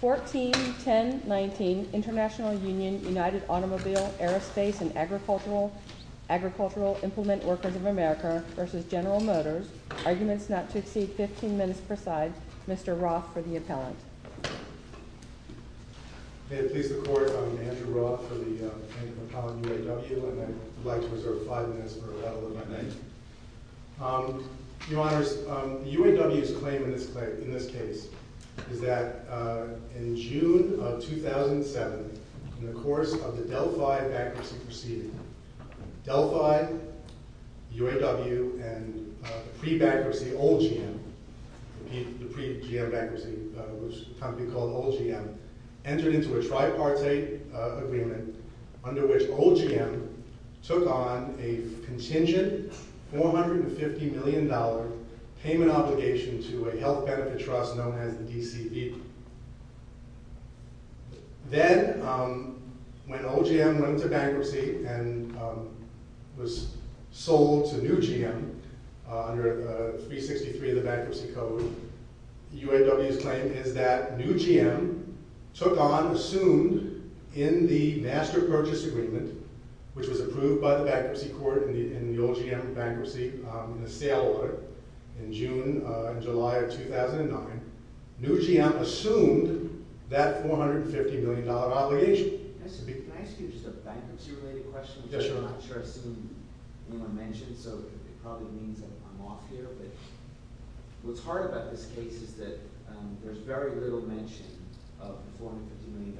141019 International Union United Automobile Aerospace and Agricultural Implement Workers of America v. General Motors Arguments not to exceed 15 minutes per side. Mr. Roth for the appellant. May it please the Court, I'm Andrew Roth for the plaintiff appellant UAW and I'd like to reserve 5 minutes for a rebuttal of my name. Your Honors, UAW's claim in this case is that in June of 2007, in the course of the Delphi bankruptcy proceeding, Delphi, UAW and pre-bankruptcy, the pre-GM bankruptcy, a company called Old GM, entered into a tripartite agreement under which Old GM took on a contingent $450 million payment obligation to a health benefit trust known as the DCB. Then when Old GM went into bankruptcy and was sold to New GM under 363 of the Bankruptcy Code, UAW's claim is that New GM took on, assumed in the Master Purchase Agreement, which was approved by the Bankruptcy Court in the Old GM bankruptcy in a sale order in July of 2009, New GM assumed that $450 million obligation. Can I ask you just a bankruptcy-related question? I'm not sure I've seen anyone mention it, so it probably means I'm off here. What's hard about this case is that there's very little mention of the $450 million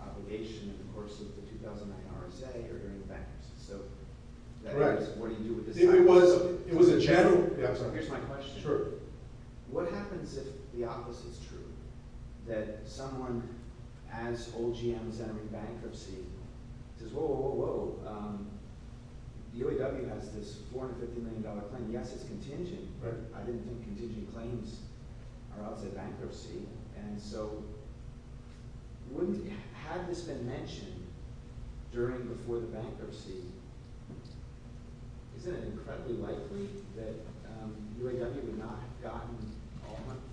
obligation in the course of the 2009 RSA or during the bankruptcy. What happens if the opposite is true, that someone, as Old GM is entering bankruptcy, says, whoa, UAW has this $450 million claim, yes, it's contingent, but I didn't think contingent claims are outside bankruptcy. Had this been mentioned before the bankruptcy, isn't it incredibly likely that UAW would not have gotten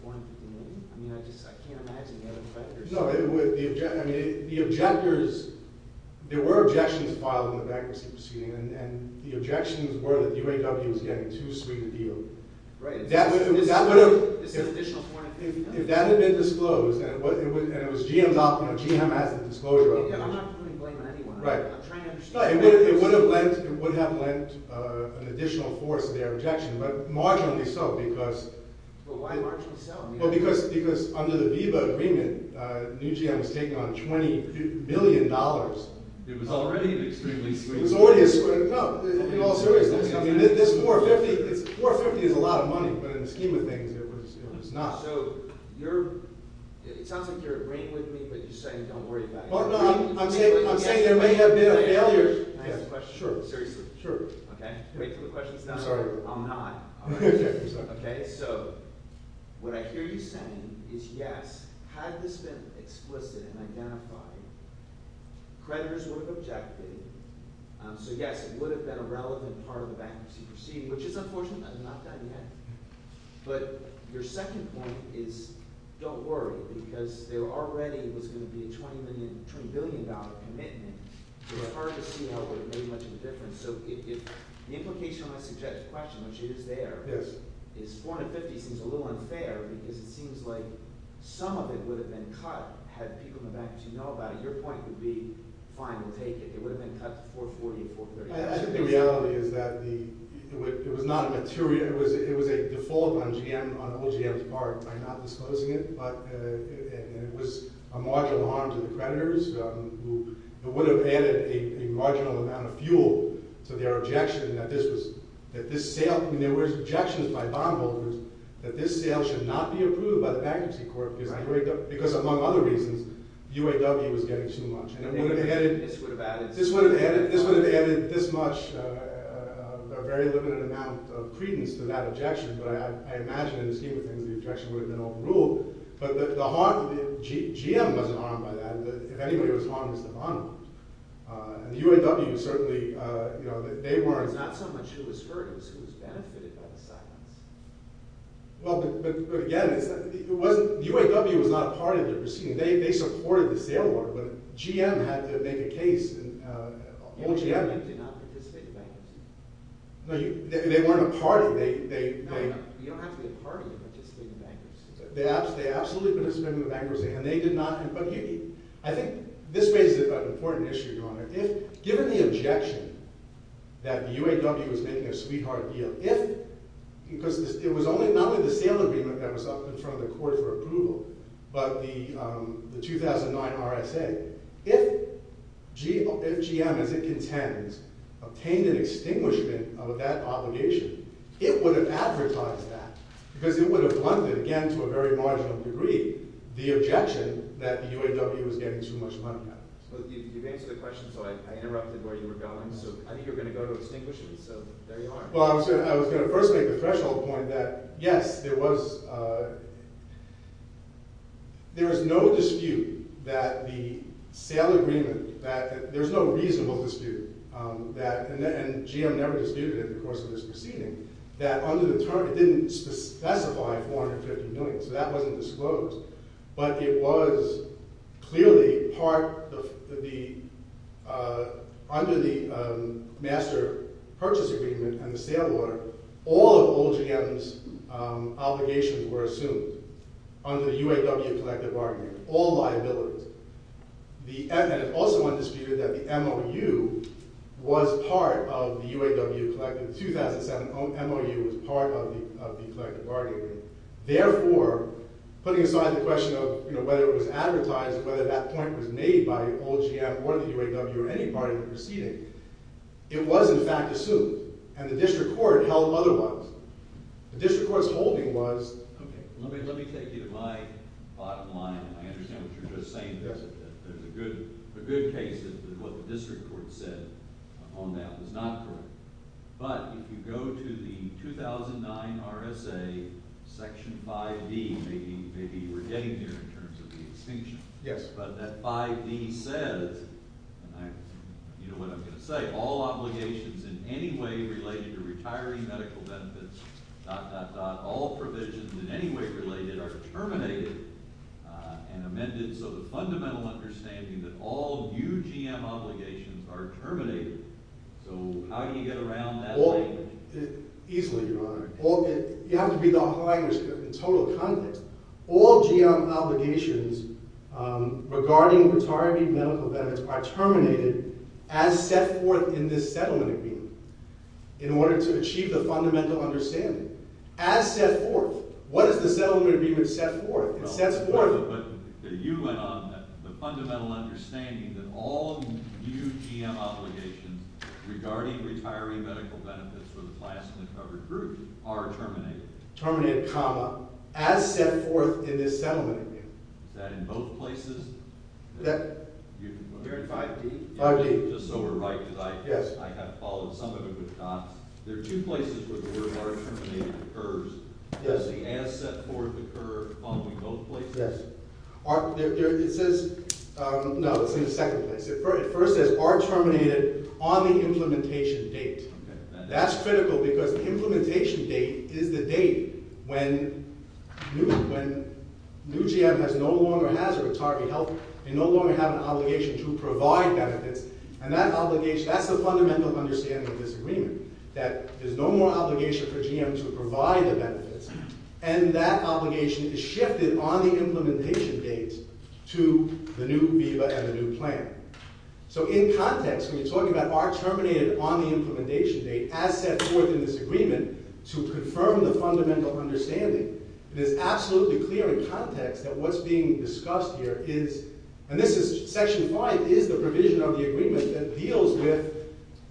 $450 million? I mean, I just can't imagine the other factors. No, I mean, the objectors, there were objections filed in the bankruptcy proceeding, and the objections were that UAW was getting too sweet a deal. Right. If that had been disclosed, and it was GM's, you know, GM has the disclosure of it. I'm not really blaming anyone. I'm trying to understand. It would have lent an additional force to their objection, but marginally so, because… Well, why marginally so? Well, because under the VIVA agreement, New GM was taking on $20 billion. It was already an extremely sweet deal. It was already a sweet deal. No, in all seriousness, I mean, this $450 is a lot of money, but in the scheme of things, it was not. So, you're, it sounds like you're agreeing with me, but you're saying don't worry about it. No, no, I'm saying there may have been a failure. Can I ask a question? Sure. Seriously? Sure. Okay, wait till the question's done. I'm sorry. I'm not. I'm sorry. Okay, so what I hear you saying is yes, had this been explicit and identified, creditors would have objected. So yes, it would have been a relevant part of the bankruptcy proceeding, which is unfortunate. That's not done yet. But your second point is don't worry because there already was going to be a $20 billion commitment. It's hard to see how it would have made much of a difference. So the implication on my suggested question, which it is there, is $450 seems a little unfair because it seems like some of it would have been cut had people in the bankership know about it. Your point would be fine, we'll take it. It would have been cut to $440, $430. I think the reality is that it was not a material – it was a default on GM, on all GM's part, by not disclosing it. It was a marginal harm to the creditors. It would have added a marginal amount of fuel to their objection that this sale – there were objections by bondholders that this sale should not be approved by the bankruptcy court because among other reasons, UAW was getting too much. This would have added this much, a very limited amount of credence to that objection. But I imagine in the scheme of things, the objection would have been overruled. But the harm – GM wasn't harmed by that. If anybody was harmed, it was the bondholders. The UAW certainly – they weren't – It's not so much who was hurt. It was who was benefited by the silence. Well, but again, it wasn't – UAW was not a part of the proceeding. They supported the sale order, but GM had to make a case. GM did not participate in bankruptcy. No, they weren't a part of it. You don't have to be a part of it to participate in bankruptcy. They absolutely participated in the bankruptcy, and they did not – but here's the thing. I think this raises an important issue, Your Honor. Because it would have blunted, again, to a very marginal degree, the objection that the UAW was getting too much money out of. You've answered the question, so I interrupted where you were going. So I think you're going to go to extinguish it. So there you are. Well, I was going to first make the threshold point that, yes, there was no dispute that the sale agreement – that there's no reasonable dispute that – and GM never disputed it in the course of this proceeding – that under the term – it didn't specify 450 million, so that wasn't disclosed. But it was clearly part of the – under the master purchase agreement and the sale order, all of old GM's obligations were assumed under the UAW collective bargaining. All liabilities. And it also wasn't disputed that the MOU was part of the UAW collective. In 2007, MOU was part of the collective bargaining agreement. Therefore, putting aside the question of, you know, whether it was advertised, whether that point was made by old GM or the UAW or any bargaining proceeding, it was, in fact, assumed. And the district court held otherwise. The district court's holding was – Let me take you to my bottom line, and I understand what you're just saying. There's a good case that what the district court said on that was not correct. But if you go to the 2009 RSA Section 5D, maybe we're getting there in terms of the extension. Yes. But that 5D says – you know what I'm going to say – that all obligations in any way related to retiree medical benefits, dot, dot, dot, all provisions in any way related are terminated and amended. So the fundamental understanding that all new GM obligations are terminated. So how do you get around that statement? Easily, Your Honor. You have to read the whole agenda script in total context. All GM obligations regarding retiree medical benefits are terminated as set forth in this settlement agreement in order to achieve the fundamental understanding. As set forth. What does the settlement agreement set forth? It sets forth – No, but you went on that the fundamental understanding that all new GM obligations regarding retiree medical benefits for the classically covered group are terminated. Terminated, comma. As set forth in this settlement agreement. Is that in both places? Here in 5D? 5D. Just so we're right because I have followed some of it with dots. There are two places where the word are terminated occurs. Does the as set forth occur among both places? Yes. It says – no, it's in the second place. It first says are terminated on the implementation date. Okay. That's critical because the implementation date is the date when new GM no longer has a retiree health – they no longer have an obligation to provide benefits. And that obligation – that's the fundamental understanding of this agreement. That there's no more obligation for GM to provide the benefits. And that obligation is shifted on the implementation date to the new VIVA and the new plan. So in context, when you're talking about are terminated on the implementation date, as set forth in this agreement, to confirm the fundamental understanding, it is absolutely clear in context that what's being discussed here is – and this is – Section 5 is the provision of the agreement that deals with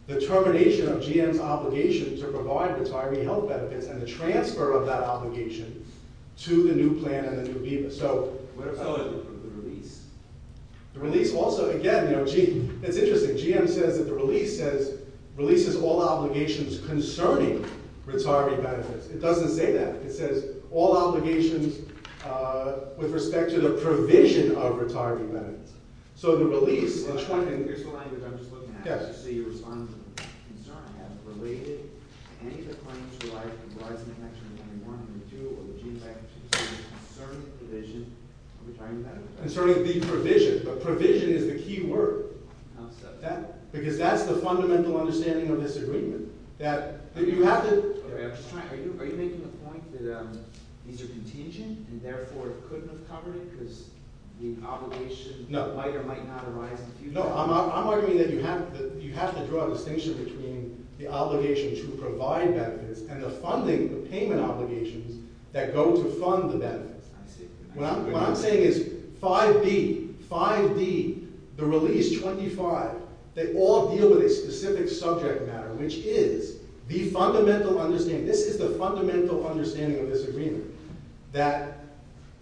the termination of GM's obligation to provide retiree health benefits and the transfer of that obligation to the new plan and the new VIVA. So – What about the release? The release also – again, it's interesting. GM says that the release says – releases all obligations concerning retiree benefits. It doesn't say that. It says all obligations with respect to the provision of retiree benefits. So the release – Here's the language I'm just looking at. Yes. So you respond to the concern as related to any of the claims in Section 1 and 2 of the GM Act concerning the provision of retiree benefits? Concerning the provision. But provision is the key word. Because that's the fundamental understanding of this agreement, that you have to – Okay, I'm just trying – are you making the point that these are contingent and therefore it couldn't have covered it because the obligation might or might not arise in future? No, I'm arguing that you have to draw a distinction between the obligation to provide benefits and the funding, the payment obligations that go to fund the benefits. I see. What I'm saying is 5B, 5D, the release 25, they all deal with a specific subject matter, which is the fundamental understanding – this is the fundamental understanding of this agreement, that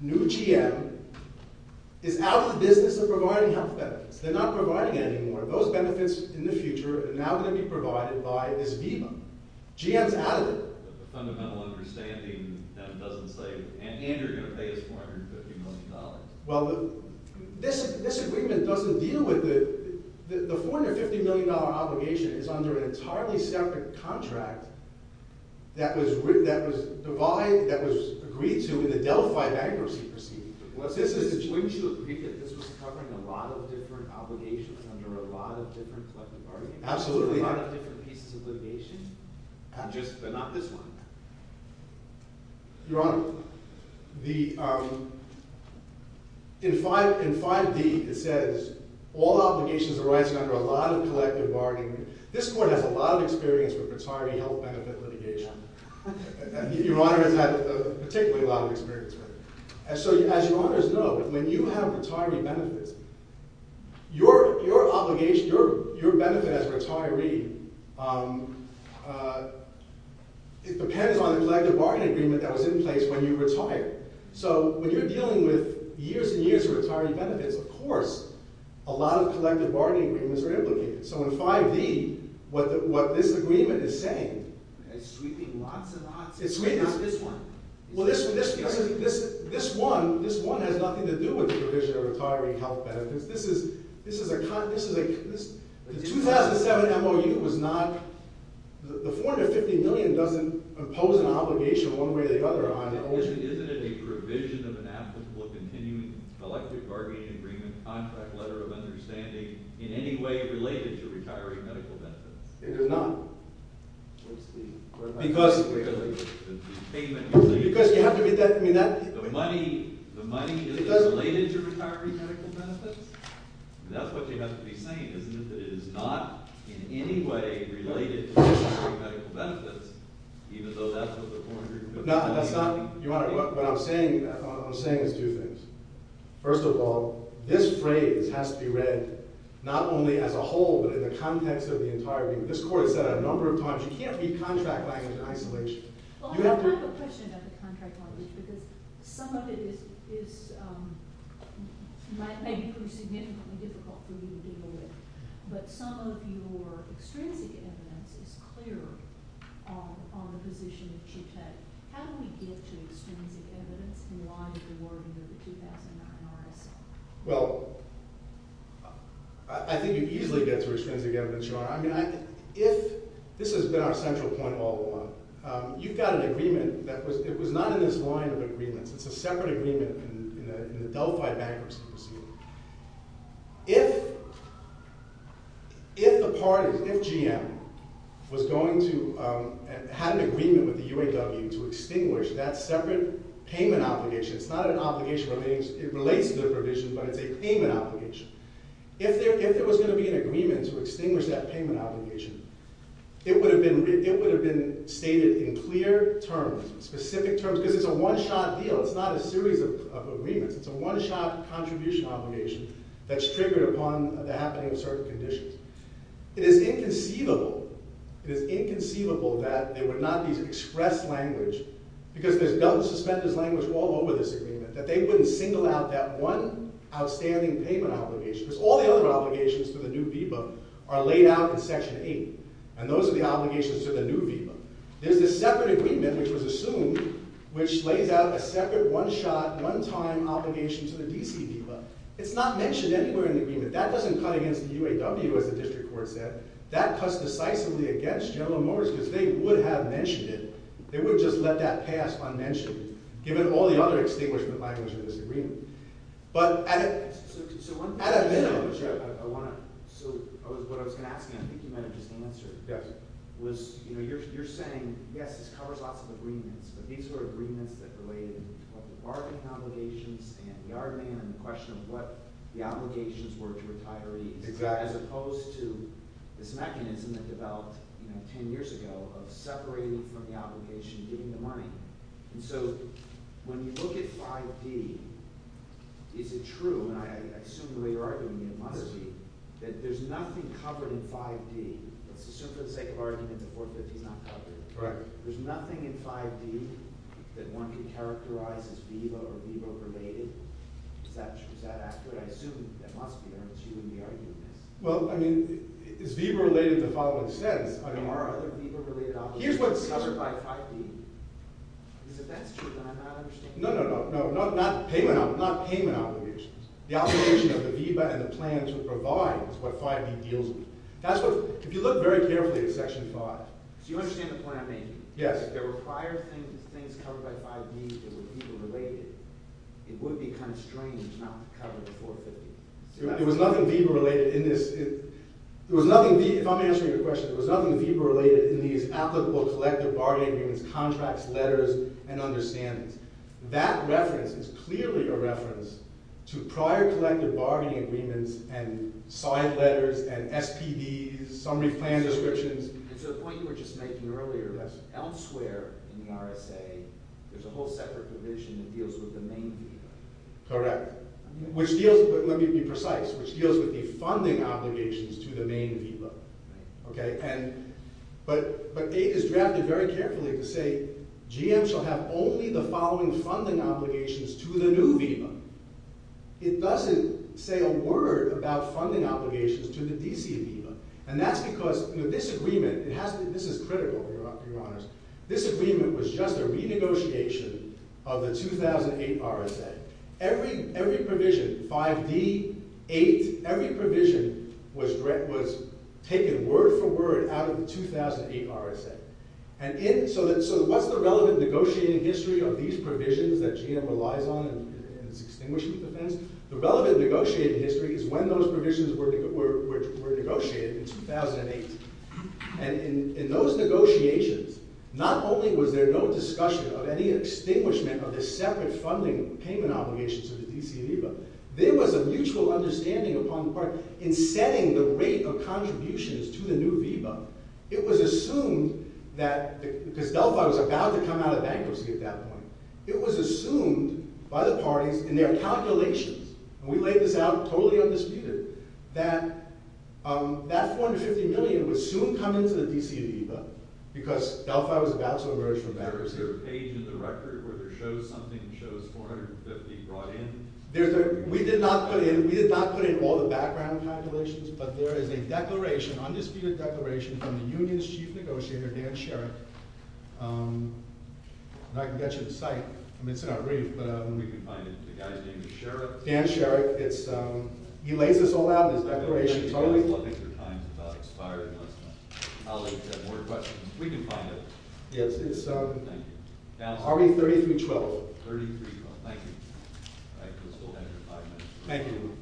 new GM is out of the business of providing health benefits. They're not providing it anymore. Those benefits in the future are now going to be provided by this VIVA. GM's out of it. But the fundamental understanding then doesn't say – and you're going to pay us $450 million. Well, this agreement doesn't deal with the – the $450 million obligation is under an entirely separate contract that was agreed to in the Delphi bankruptcy proceeding. Wouldn't you agree that this was covering a lot of different obligations under a lot of different collective arguments? Absolutely. A lot of different pieces of litigation, but not this one. Your Honor, the – in 5D it says all obligations arising under a lot of collective bargaining. This court has a lot of experience with retiree health benefit litigation. Your Honor has had a particularly lot of experience with it. And so, as Your Honors know, when you have retiree benefits, your obligation, your benefit as a retiree, it depends on the collective bargaining agreement that was in place when you retired. So, when you're dealing with years and years of retiree benefits, of course, a lot of collective bargaining agreements are implicated. So, in 5D, what this agreement is saying – It's sweeping lots and lots. It's sweeping – Not this one. Well, this one – this one has nothing to do with the provision of retiree health benefits. This is a – the 2007 MOU was not – the $450 million doesn't impose an obligation one way or the other, Your Honor. Isn't it a provision of an applicable continuing collective bargaining agreement contract letter of understanding in any way related to retiree medical benefits? It is not. Because – because you have to be – I mean, that – The money – the money isn't related to retiree medical benefits? That's what you have to be saying, isn't it, that it is not in any way related to retiree medical benefits, even though that's what the 400 million – No, that's not – Your Honor, what I'm saying – what I'm saying is two things. First of all, this phrase has to be read not only as a whole, but in the context of the entire – this Court has said it a number of times. You can't read contract language in isolation. Well, I have a question about the contract language because some of it is – might make it more significantly difficult for you to deal with, but some of your extrinsic evidence is clear on the position that you take. How do we get to extrinsic evidence in light of the wording of the 2009 RSA? Well, I think you easily get to extrinsic evidence, Your Honor. I mean, if – this has been our central point all along. You've got an agreement that was – it was not in this line of agreements. It's a separate agreement in the Delphi bankruptcy proceeding. If the parties – if GM was going to – had an agreement with the UAW to extinguish that separate payment obligation – it's not an obligation – it relates to the provision, but it's a payment obligation. If there was going to be an agreement to extinguish that payment obligation, it would have been – it would have been stated in clear terms, specific terms, because it's a one-shot deal. It's not a series of agreements. It's a one-shot contribution obligation that's triggered upon the happening of certain conditions. It is inconceivable – it is inconceivable that there would not be express language because there's suspended language all over this agreement, that they wouldn't single out that one outstanding payment obligation, because all the other obligations to the new VBIPA are laid out in Section 8, and those are the obligations to the new VBIPA. There's this separate agreement, which was assumed, which lays out a separate one-shot, one-time obligation to the D.C. VBIPA. It's not mentioned anywhere in the agreement. That doesn't cut against the UAW, as the district court said. That cuts decisively against General Motors because they would have mentioned it. They would have just let that pass unmentioned, given all the other extinguishment language in this agreement. But at a minimum – So what I was going to ask, and I think you might have just answered, was, you know, you're saying, yes, this covers lots of agreements, but these were agreements that related to both the bargaining obligations and the art demand and the question of what the obligations were to retirees, as opposed to this mechanism that developed, you know, 10 years ago of separating from the obligation and giving the money. And so when you look at 5D, is it true, and I assume the way you're arguing it, it must be, that there's nothing covered in 5D – let's assume for the sake of argument that 450 is not covered – there's nothing in 5D that one can characterize as VBIPA or VBIPA-related? Is that accurate? I assume that must be. I don't see you in the argument. Well, I mean, is VBIPA related in the following sense? Are there other VBIPA-related obligations covered by 5D? Because if that's true, then I'm not understanding. No, no, no. Not payment obligations. The obligation of the VBIPA and the plan to provide is what 5D deals with. That's what – if you look very carefully at Section 5 – So you understand the point I'm making? Yes. If there were prior things covered by 5D that were VBIPA-related, it would be kind of strange not to cover the 450. There was nothing VBIPA-related in this. If I'm answering your question, there was nothing VBIPA-related in these applicable collective bargaining agreements, contracts, letters, and understandings. That reference is clearly a reference to prior collective bargaining agreements and side letters and SPDs, summary plan descriptions. And to the point you were just making earlier, elsewhere in the RSA, there's a whole separate provision that deals with the main VBIPA. Correct. Let me be precise. Which deals with the funding obligations to the main VBIPA. Right. But it is drafted very carefully to say, GM shall have only the following funding obligations to the new VBIPA. It doesn't say a word about funding obligations to the DC VBIPA. And that's because this agreement – this is critical, Your Honors – this agreement was just a renegotiation of the 2008 RSA. Every provision – 5D, 8 – every provision was taken word for word out of the 2008 RSA. So what's the relevant negotiating history of these provisions that GM relies on in its extinguishing defense? The relevant negotiating history is when those provisions were negotiated in 2008. And in those negotiations, not only was there no discussion of any extinguishment or the separate funding payment obligations to the DC VBIPA, there was a mutual understanding upon the part in setting the rate of contributions to the new VBIPA. It was assumed that – because Delphi was about to come out of bankruptcy at that point – it was assumed by the parties in their calculations – and we laid this out totally undisputed – that that $450 million would soon come into the DC VBIPA because Delphi was about to emerge from bankruptcy. Is there a page in the record where there shows something – shows $450 brought in? We did not put in – we did not put in all the background calculations, but there is a declaration – undisputed declaration from the union's chief negotiator, Dan Sherrick. And I can get you the site. I mean, it's in our brief, but – We can find it. The guy's name is Sherrick. Dan Sherrick. It's – he lays this all out in his declaration. This declaration is always looking for times it's not expired unless my colleagues have more questions. We can find it. Yes, it's – Thank you. Now, are we 30 through 12? 30 through 12. Thank you. Thank you.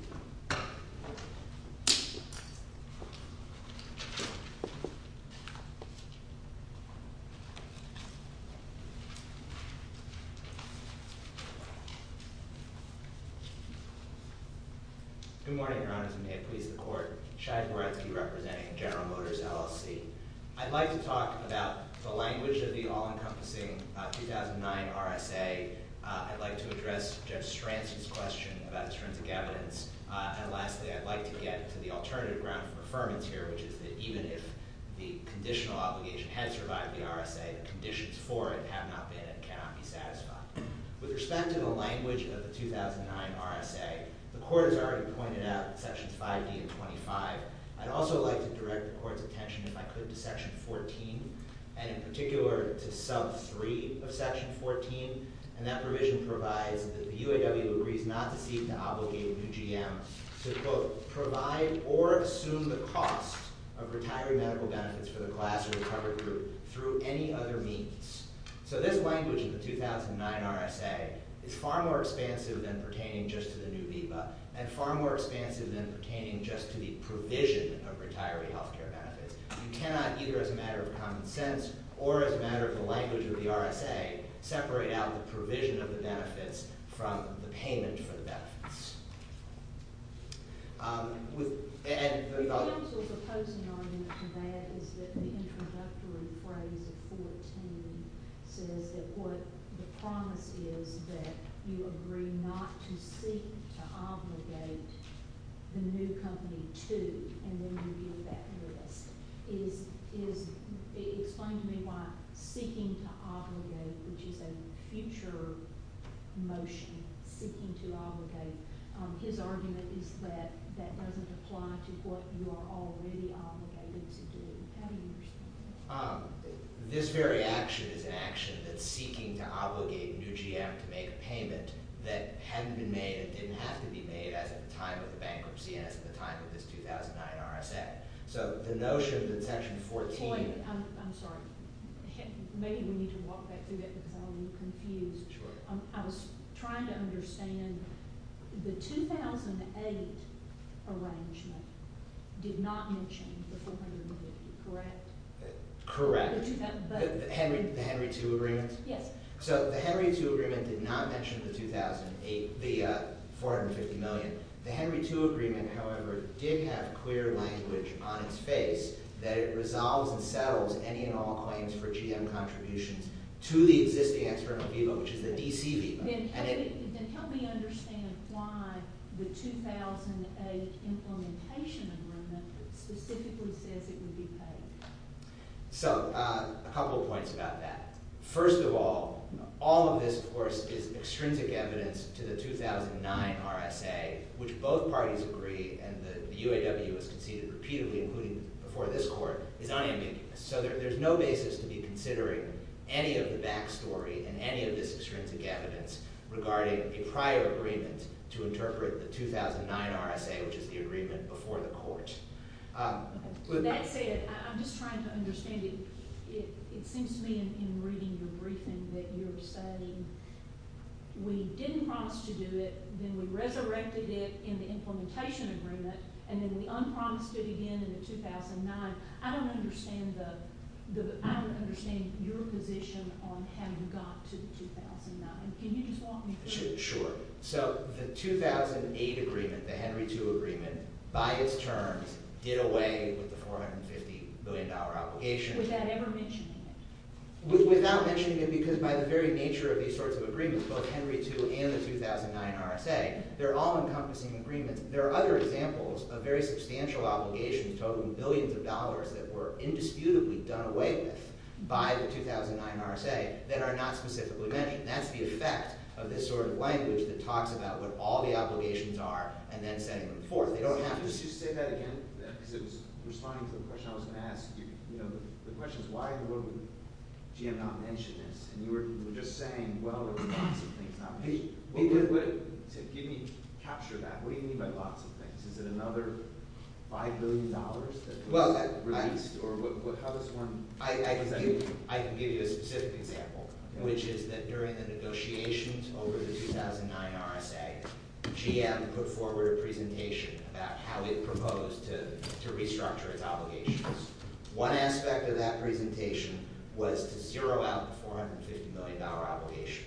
Good morning, Your Honors, and may it please the Court. Shai Goretzky representing General Motors LLC. I'd like to talk about the language of the all-encompassing 2009 RSA. I'd like to address Judge Stransky's question about extrinsic evidence. And lastly, I'd like to get to the alternative ground for affirmance here, which is that even if the conditional obligation had survived the RSA, the conditions for it have not been and cannot be satisfied. With respect to the language of the 2009 RSA, the Court has already pointed out sections 5D and 25. I'd also like to direct the Court's attention, if I could, to section 14, and in particular to sub 3 of section 14. And that provision provides that the UAW agrees not to seek to obligate new GMs to both provide or assume the cost of retired medical benefits for the class or the covered group through any other means. So this language of the 2009 RSA is far more expansive than pertaining just to the new VIVA and far more expansive than pertaining just to the provision of retiree health care benefits. You cannot, either as a matter of common sense or as a matter of the language of the RSA, separate out the provision of the benefits from the payment for the benefits. And the other... I also was opposing argument to that is that the introductory phrase of 14 says that what the promise is that you agree not to seek to obligate the new company to, and then you yield that risk. It explains to me why seeking to obligate, which is a future motion, seeking to obligate, his argument is that that doesn't apply to what you are already obligated to do. How do you understand that? This very action is an action that's seeking to obligate new GM to make a payment that hadn't been made and didn't have to be made as at the time of the bankruptcy and as at the time of this 2009 RSA. So the notion that section 14... I'm sorry. Maybe we need to walk back through that because I'm a little confused. Sure. I was trying to understand the 2008 arrangement did not mention the $450 million, correct? Correct. The Henry II agreement? Yes. So the Henry II agreement did not mention the $450 million. The Henry II agreement, however, did have clear language on its face that it resolves and settles any and all claims for GM contributions to the existing external VIVA, which is the DC VIVA. Then help me understand why the 2008 implementation agreement specifically says it would be paid. So a couple of points about that. First of all, all of this, of course, is extrinsic evidence to the 2009 RSA, which both parties agree and the UAW has conceded repeatedly, including before this Court, is unambiguous. So there's no basis to be considering any of the backstory and any of this extrinsic evidence regarding a prior agreement to interpret the 2009 RSA, which is the agreement before the Court. That said, I'm just trying to understand. It seems to me in reading your briefing that you're saying we didn't promise to do it, then we resurrected it in the implementation agreement, and then we unpromised it again in the 2009. I don't understand your position on how you got to 2009. Can you just walk me through it? Sure. So the 2008 agreement, the Henry II agreement, by its terms, did away with the $450 billion obligation. Without ever mentioning it? Without mentioning it, because by the very nature of these sorts of agreements, both Henry II and the 2009 RSA, they're all encompassing agreements. There are other examples of very substantial obligations, totaling billions of dollars that were indisputably done away with by the 2009 RSA that are not specifically mentioned. That's the effect of this sort of language that talks about what all the obligations are and then sending them forth. Just to say that again, because it was responding to a question I was going to ask. The question is why would GM not mention this? And you were just saying, well, there were lots of things not mentioned. Give me a capture of that. What do you mean by lots of things? Is it another $5 billion that was released? I can give you a specific example, which is that during the negotiations over the 2009 RSA, GM put forward a presentation about how it proposed to restructure its obligations. One aspect of that presentation was to zero out the $450 million obligation.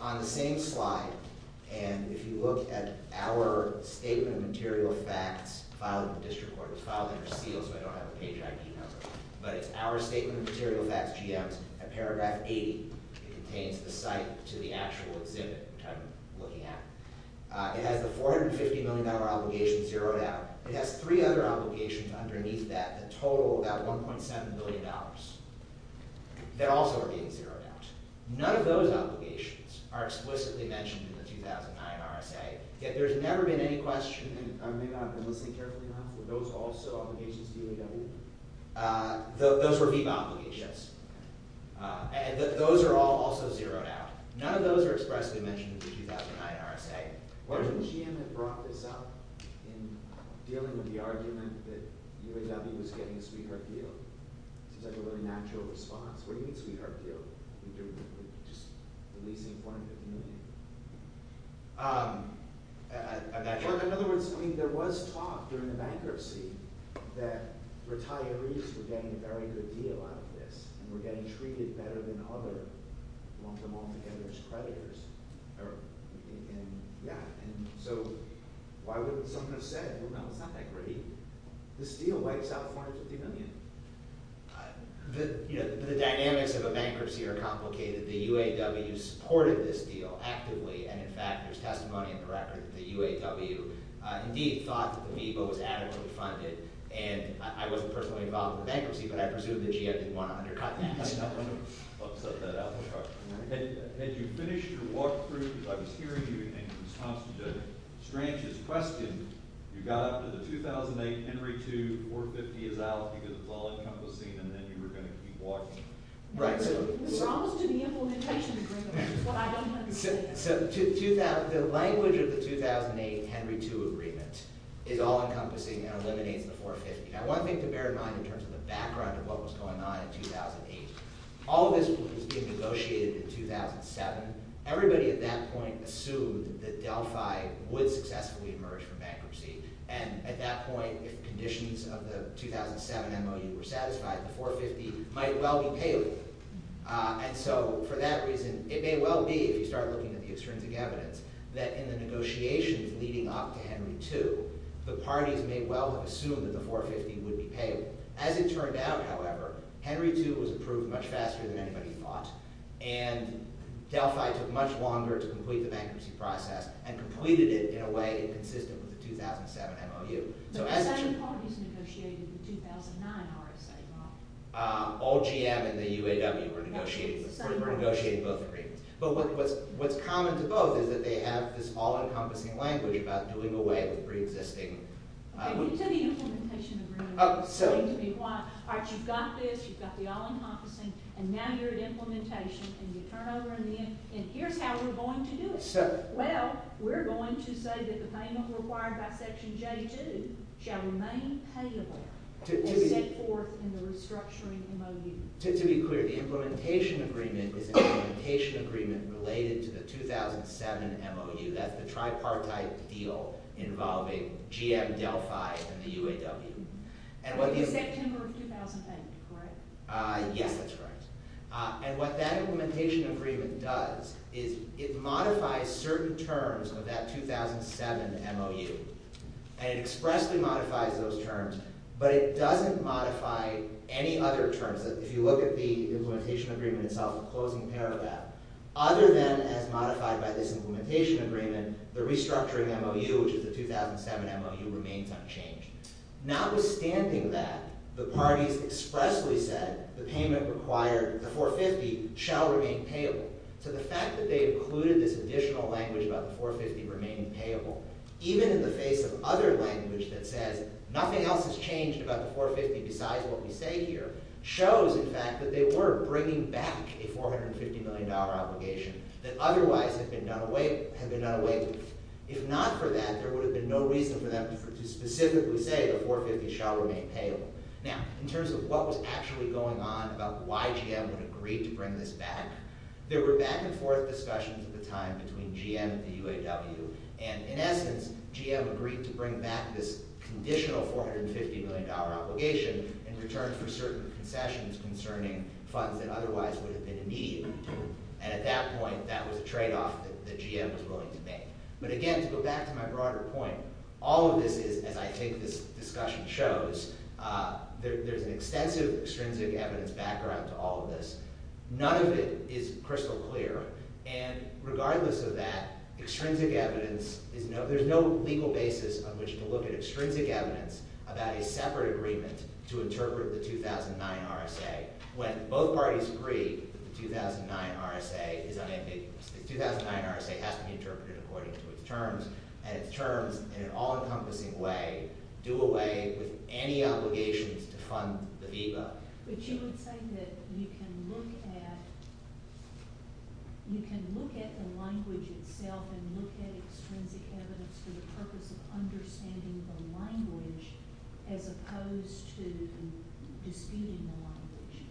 On the same slide, and if you look at our statement of material facts, filed in the district court, it's filed under seal so I don't have a page ID number, but it's our statement of material facts, GM's, at paragraph 80. It contains the site to the actual exhibit, which I'm looking at. It has the $450 million obligation zeroed out. It has three other obligations underneath that that total about $1.7 billion that also are being zeroed out. None of those obligations are explicitly mentioned in the 2009 RSA. Yet there's never been any question, and I may not have been listening carefully enough, were those also obligations to UAW? Those were HIPAA obligations. Those are all also zeroed out. None of those are expressly mentioned in the 2009 RSA. Why didn't GM have brought this up in dealing with the argument that UAW was getting a sweetheart deal? It seems like a really natural response. What do you mean sweetheart deal? We're just releasing $450 million. In other words, I mean there was talk during the bankruptcy that retirees were getting a very good deal out of this and were getting treated better than other long-term all-together creditors. Yeah, and so why wouldn't someone have said, well, it's not that great. This deal wipes out $450 million. The dynamics of a bankruptcy are complicated. The UAW supported this deal actively, and, in fact, there's testimony in the record that the UAW indeed thought that Amoeba was adequately funded. And I wasn't personally involved in the bankruptcy, but I presume that GM didn't want to undercut that. Had you finished your walkthrough? I was hearing you in response to Stranch's question. You got up to the 2008 Henry II, $450 is out because it's all-encompassing, and then you were going to keep walking. Right, so we're almost to the implementation agreement, which is what I don't understand. So the language of the 2008 Henry II agreement is all-encompassing and eliminates the $450. Now, one thing to bear in mind in terms of the background of what was going on in 2008, all of this was being negotiated in 2007. Everybody at that point assumed that Delphi would successfully emerge from bankruptcy. And at that point, if the conditions of the 2007 MOU were satisfied, the $450 might well be payable. And so for that reason, it may well be, if you start looking at the extrinsic evidence, that in the negotiations leading up to Henry II, the parties may well have assumed that the $450 would be payable. As it turned out, however, Henry II was approved much faster than anybody thought, and Delphi took much longer to complete the bankruptcy process, and completed it in a way inconsistent with the 2007 MOU. But both parties negotiated the 2009 RSA model. All GM and the UAW were negotiating both agreements. But what's common to both is that they have this all-encompassing language about doing away with preexisting— Okay, but you took the implementation agreement. Oh, so— Wait a minute, why? All right, you've got this, you've got the all-encompassing, and now you're at implementation, and you turn over in the end, and here's how we're going to do it. So— Well, we're going to say that the payment required by Section J.2 shall remain payable— To be— —and set forth in the restructuring MOU. To be clear, the implementation agreement is an implementation agreement related to the 2007 MOU. That's the tripartite deal involving GM, Delphi, and the UAW. And what the— September of 2009, correct? Yes, that's correct. And what that implementation agreement does is it modifies certain terms of that 2007 MOU, and it expressly modifies those terms, but it doesn't modify any other terms. If you look at the implementation agreement itself, the closing paragraph, other than as modified by this implementation agreement, the restructuring MOU, which is the 2007 MOU, remains unchanged. Notwithstanding that, the parties expressly said the payment required, the 450, shall remain payable. So the fact that they included this additional language about the 450 remaining payable, even in the face of other language that says nothing else has changed about the 450 besides what we say here, shows, in fact, that they were bringing back a $450 million obligation that otherwise had been done away with. If not for that, there would have been no reason for them to specifically say the 450 shall remain payable. Now, in terms of what was actually going on about why GM would agree to bring this back, there were back-and-forth discussions at the time between GM and the UAW, and in essence, GM agreed to bring back this conditional $450 million obligation in return for certain concessions concerning funds that otherwise would have been in need. And at that point, that was a tradeoff that GM was willing to make. But again, to go back to my broader point, all of this is, as I think this discussion shows, there's an extensive extrinsic evidence background to all of this. None of it is crystal clear. And regardless of that, extrinsic evidence is no— there's no legal basis on which to look at extrinsic evidence about a separate agreement to interpret the 2009 RSA when both parties agree that the 2009 RSA is unambiguous. The 2009 RSA has to be interpreted according to its terms, and its terms, in an all-encompassing way, do away with any obligations to fund the VEBA. But you would say that you can look at— you can look at the language itself and look at extrinsic evidence for the purpose of understanding the language as opposed to disputing the language.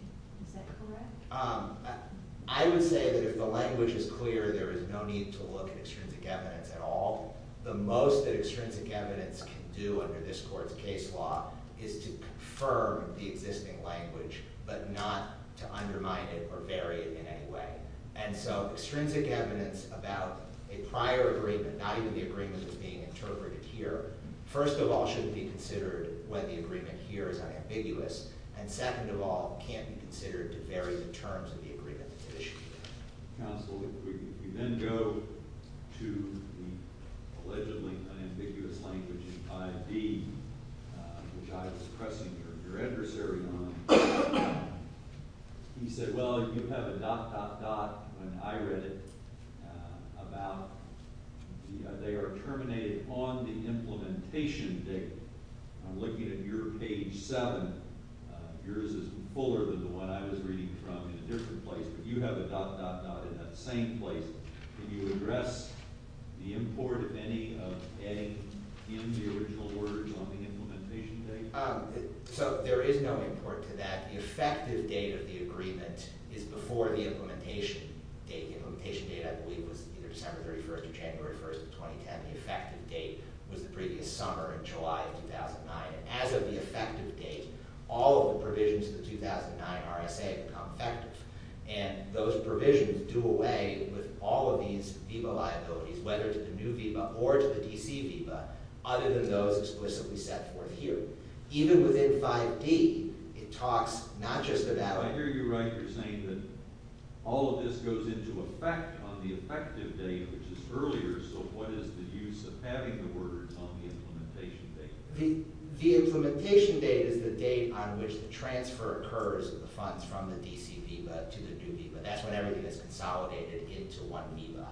Is that correct? I would say that if the language is clear, there is no need to look at extrinsic evidence at all. The most that extrinsic evidence can do under this Court's case law is to confirm the existing language, but not to undermine it or vary it in any way. And so extrinsic evidence about a prior agreement, not even the agreement that's being interpreted here, first of all, shouldn't be considered when the agreement here is unambiguous, and second of all, can't be considered to vary the terms of the agreement that's at issue here. Counsel, if we then go to the allegedly unambiguous language in 5D, which I was pressing your adversary on, you said, well, you have a dot, dot, dot when I read it about— they are terminated on the implementation date. I'm looking at your page 7. Yours is fuller than the one I was reading from in a different place, but you have a dot, dot, dot in that same place. Can you address the import of any of A in the original words on the implementation date? So there is no import to that. The effective date of the agreement is before the implementation date. The implementation date, I believe, was either December 31st or January 1st of 2010. The effective date was the previous summer in July of 2009. As of the effective date, all of the provisions of the 2009 RSA have become effective, and those provisions do away with all of these VIVA liabilities, whether to the new VIVA or to the DC VIVA, other than those explicitly set forth here. Even within 5D, it talks not just about— I hear you right. You're saying that all of this goes into effect on the effective date, which is earlier, so what is the use of having the words on the implementation date? The implementation date is the date on which the transfer occurs of the funds from the DC VIVA to the new VIVA. That's when everything is consolidated into one VIVA.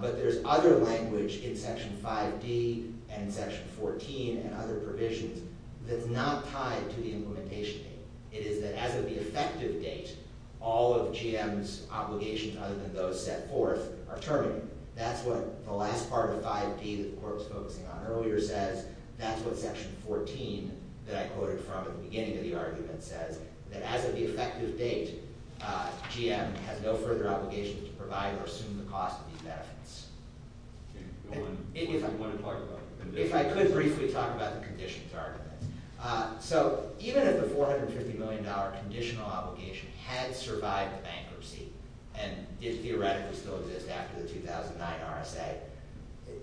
But there's other language in Section 5D and Section 14 and other provisions that's not tied to the implementation date. It is that as of the effective date, all of GM's obligations other than those set forth are terminated. That's what the last part of 5D that the Court was focusing on earlier says. That's what Section 14 that I quoted from at the beginning of the argument says, that as of the effective date, GM has no further obligation to provide or assume the cost of these benefits. If I could briefly talk about the conditions argument. So even if the $450 million conditional obligation had survived bankruptcy, and it theoretically still exists after the 2009 RSA,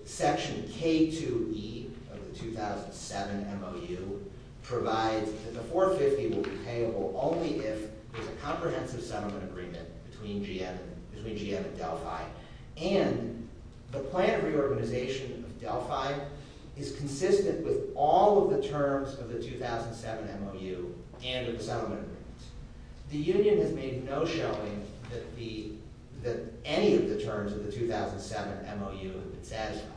Section K2E of the 2007 MOU provides that the $450 million will be payable only if there's a comprehensive settlement agreement between GM and Delphi, and the plan of reorganization of Delphi is consistent with all of the terms of the 2007 MOU and of the settlement agreement. The union has made no showing that any of the terms of the 2007 MOU have been satisfied.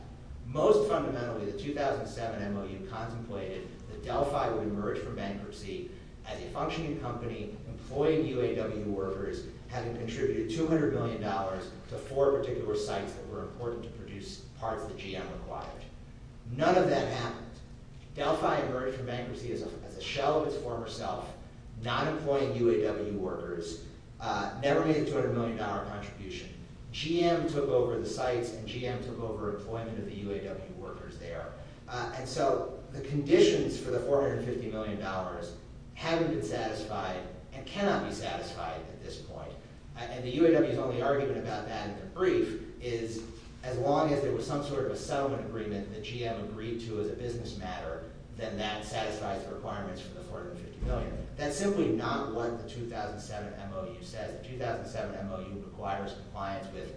Most fundamentally, the 2007 MOU contemplated that Delphi would emerge from bankruptcy as a functioning company employing UAW workers having contributed $200 million to four particular sites that were important to produce parts that GM required. None of that happened. Delphi emerged from bankruptcy as a shell of its former self, not employing UAW workers, never made a $200 million contribution. GM took over the sites and GM took over employment of the UAW workers there. And so the conditions for the $450 million haven't been satisfied and cannot be satisfied at this point. And the UAW's only argument about that in the brief is, as long as there was some sort of a settlement agreement that GM agreed to as a business matter, then that satisfies the requirements for the $450 million. That's simply not what the 2007 MOU says. The 2007 MOU requires compliance with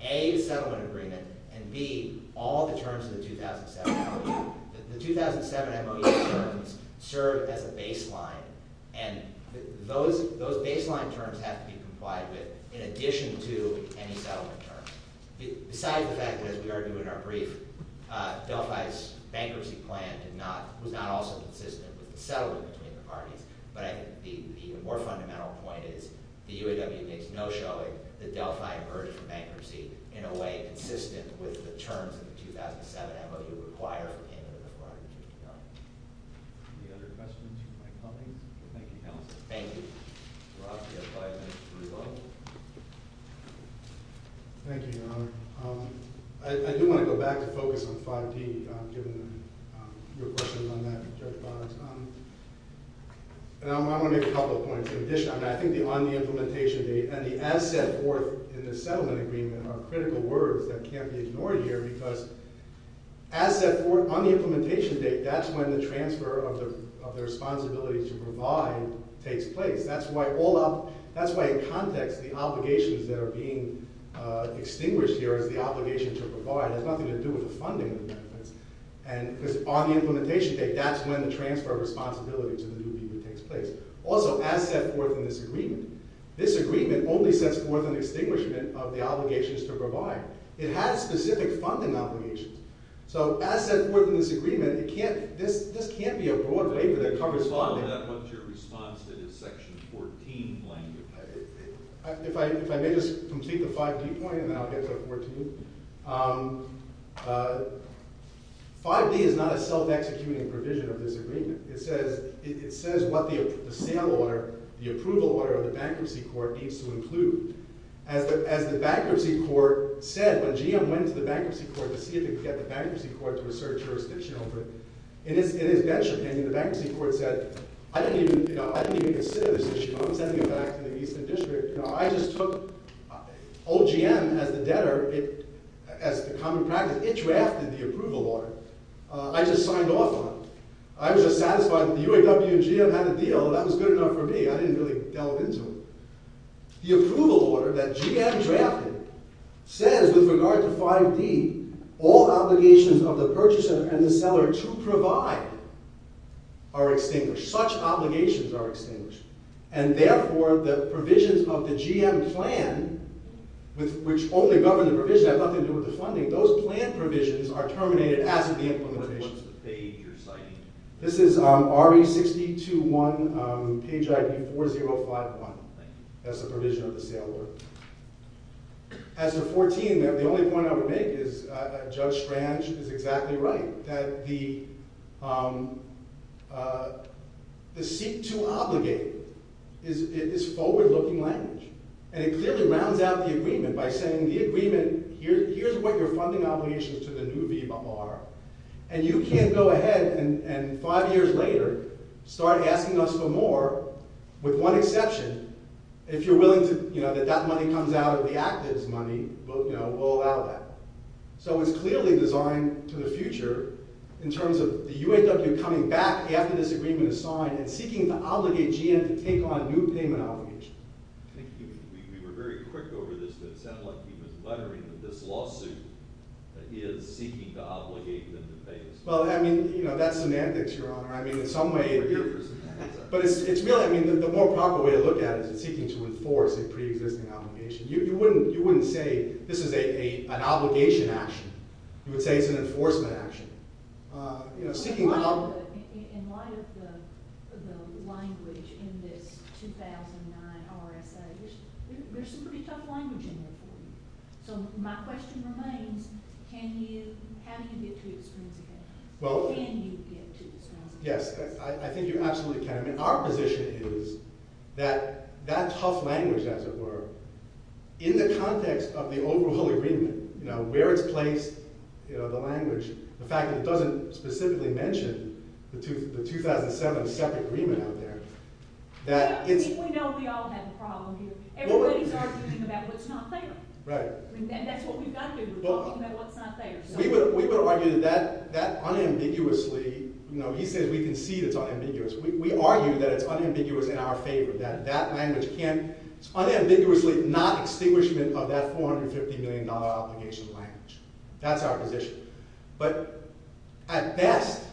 A, the settlement agreement, and B, all the terms of the 2007 MOU. The 2007 MOU terms serve as a baseline, and those baseline terms have to be complied with in addition to any settlement terms. Besides the fact that, as we argue in our brief, Delphi's bankruptcy plan was not also consistent with the settlement between the parties, but I think the more fundamental point is the UAW makes no showing that Delphi emerged from bankruptcy in a way consistent with the terms of the 2007 MOU require for payment of the $450 million. Any other questions from my colleagues? Thank you, counsel. Thank you. Thank you, Your Honor. I do want to go back to focus on 5D, given your questions on that, Judge Boggs. And I want to make a couple of points. In addition, I think the on the implementation date and the as set forth in the settlement agreement are critical words that can't be ignored here because as set forth on the implementation date, that's when the transfer of the responsibility to provide takes place. That's why in context, the obligations that are being extinguished here as the obligation to provide has nothing to do with the funding. Because on the implementation date, that's when the transfer of responsibility to the new people takes place. Also, as set forth in this agreement, this agreement only sets forth an extinguishment of the obligations to provide. It has specific funding obligations. So as set forth in this agreement, this can't be a broad waiver that covers funding. Could you respond to that? What's your response to this Section 14 language? If I may just complete the 5D point, and then I'll get to 14. 5D is not a self-executing provision of this agreement. It says what the sale order, the approval order of the bankruptcy court needs to include. As the bankruptcy court said, when GM went to the bankruptcy court to see if it could get the bankruptcy court to assert jurisdiction over it, in its venture, the bankruptcy court said, I didn't even consider this issue. I'm sending it back to the Eastern District. I just took OGM as the common practice. It drafted the approval order. I just signed off on it. I was just satisfied that the UAW and GM had a deal. That was good enough for me. I didn't really delve into it. The approval order that GM drafted says, with regard to 5D, all obligations of the purchaser and the seller to provide are extinguished. Such obligations are extinguished. And therefore, the provisions of the GM plan, which only govern the provision, have nothing to do with the funding. Those plan provisions are terminated as of the implementation. What was the page you're citing? This is RE6021, page ID 4051. That's the provision of the sale order. As to 14, the only point I would make is Judge Schranch is exactly right, that the seek-to-obligate is forward-looking language. And it clearly rounds out the agreement by saying, the agreement, here's what your funding obligations to the new VBA are, and you can't go ahead and five years later start asking us for more, with one exception, if you're willing that that money comes out of the active's money, we'll allow that. So it's clearly designed to the future in terms of the UAW coming back after this agreement is signed and seeking to obligate GM to take on new payment obligations. I think we were very quick over this, but it sounded like he was lettering that this lawsuit is seeking to obligate them to pay us. Well, I mean, you know, that's semantics, Your Honor. I mean, in some way, but it's really, I mean, the more proper way to look at it is seeking to enforce a pre-existing obligation. You wouldn't say this is an obligation action. You would say it's an enforcement action. In light of the language in this 2009 RSA, there's some pretty tough language in there for you. So my question remains, can you, how do you get to it? Can you get to it? Yes, I think you absolutely can. I mean, our position is that that tough language, as it were, in the context of the overall agreement, you know, where it's placed, you know, the language, the fact that it doesn't specifically mention the 2007 separate agreement out there. I think we know we all have a problem here. Everybody's arguing about what's not fair. Right. I mean, that's what we've got to do. We're talking about what's not fair. We would argue that that unambiguously, you know, he says we concede it's unambiguous. We argue that it's unambiguous in our favor, that that language can't, unambiguously not extinguishment of that $450 million obligation language. That's our position. But at best,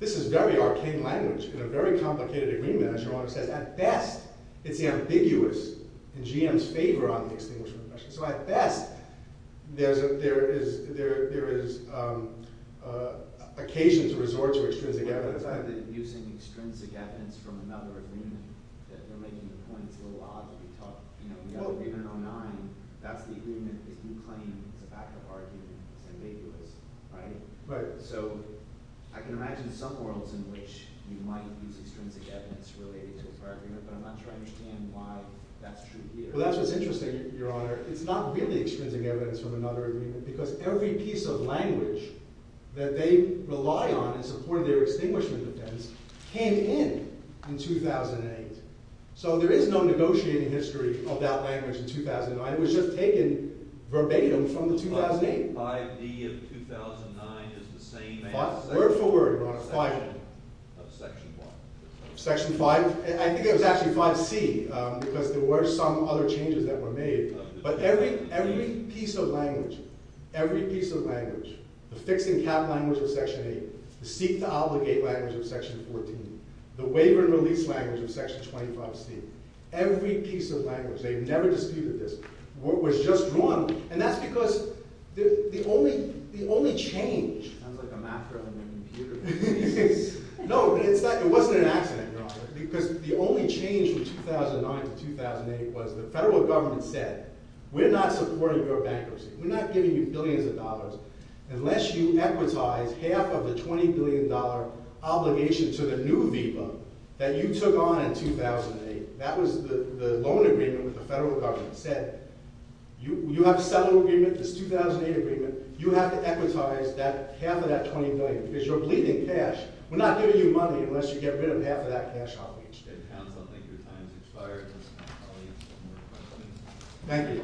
this is very arcane language in a very complicated agreement, as your Honor says. At best, it's ambiguous in GM's favor on the extinguishment question. So at best, there is occasion to resort to extrinsic evidence. Using extrinsic evidence from another agreement that they're making the point it's a little odd that we talk. You know, we have the agreement in 09. That's the agreement that you claim is a fact of argument. It's ambiguous. Right? Right. So I can imagine some worlds in which you might use extrinsic evidence related to his argument, but I'm not sure I understand why that's true here. Well, that's what's interesting, your Honor. It's not really extrinsic evidence from another agreement because every piece of language that they rely on in support of their extinguishment defense came in in 2008. So there is no negotiating history of that language in 2009. It was just taken verbatim from the 2008. But 5D of 2009 is the same thing. Word for word, your Honor, 5D. Of Section 5. Section 5? I think it was actually 5C because there were some other changes that were made. But every piece of language, every piece of language, the fixing cap language of Section 8, the seek to obligate language of Section 14, the waiver and release language of Section 25C, every piece of language, they've never disputed this, was just drawn. And that's because the only change... Sounds like a math problem in a computer. No, it's not. It wasn't an accident, your Honor. Because the only change from 2009 to 2008 was the federal government said, we're not supporting your bankruptcy. We're not giving you billions of dollars. Unless you equitize half of the $20 billion obligation to the new VBA that you took on in 2008, that was the loan agreement with the federal government, said you have a settlement agreement, this 2008 agreement, you have to equitize half of that $20 billion because you're bleeding cash. We're not giving you money unless you get rid of half of that cash outage. Thank you.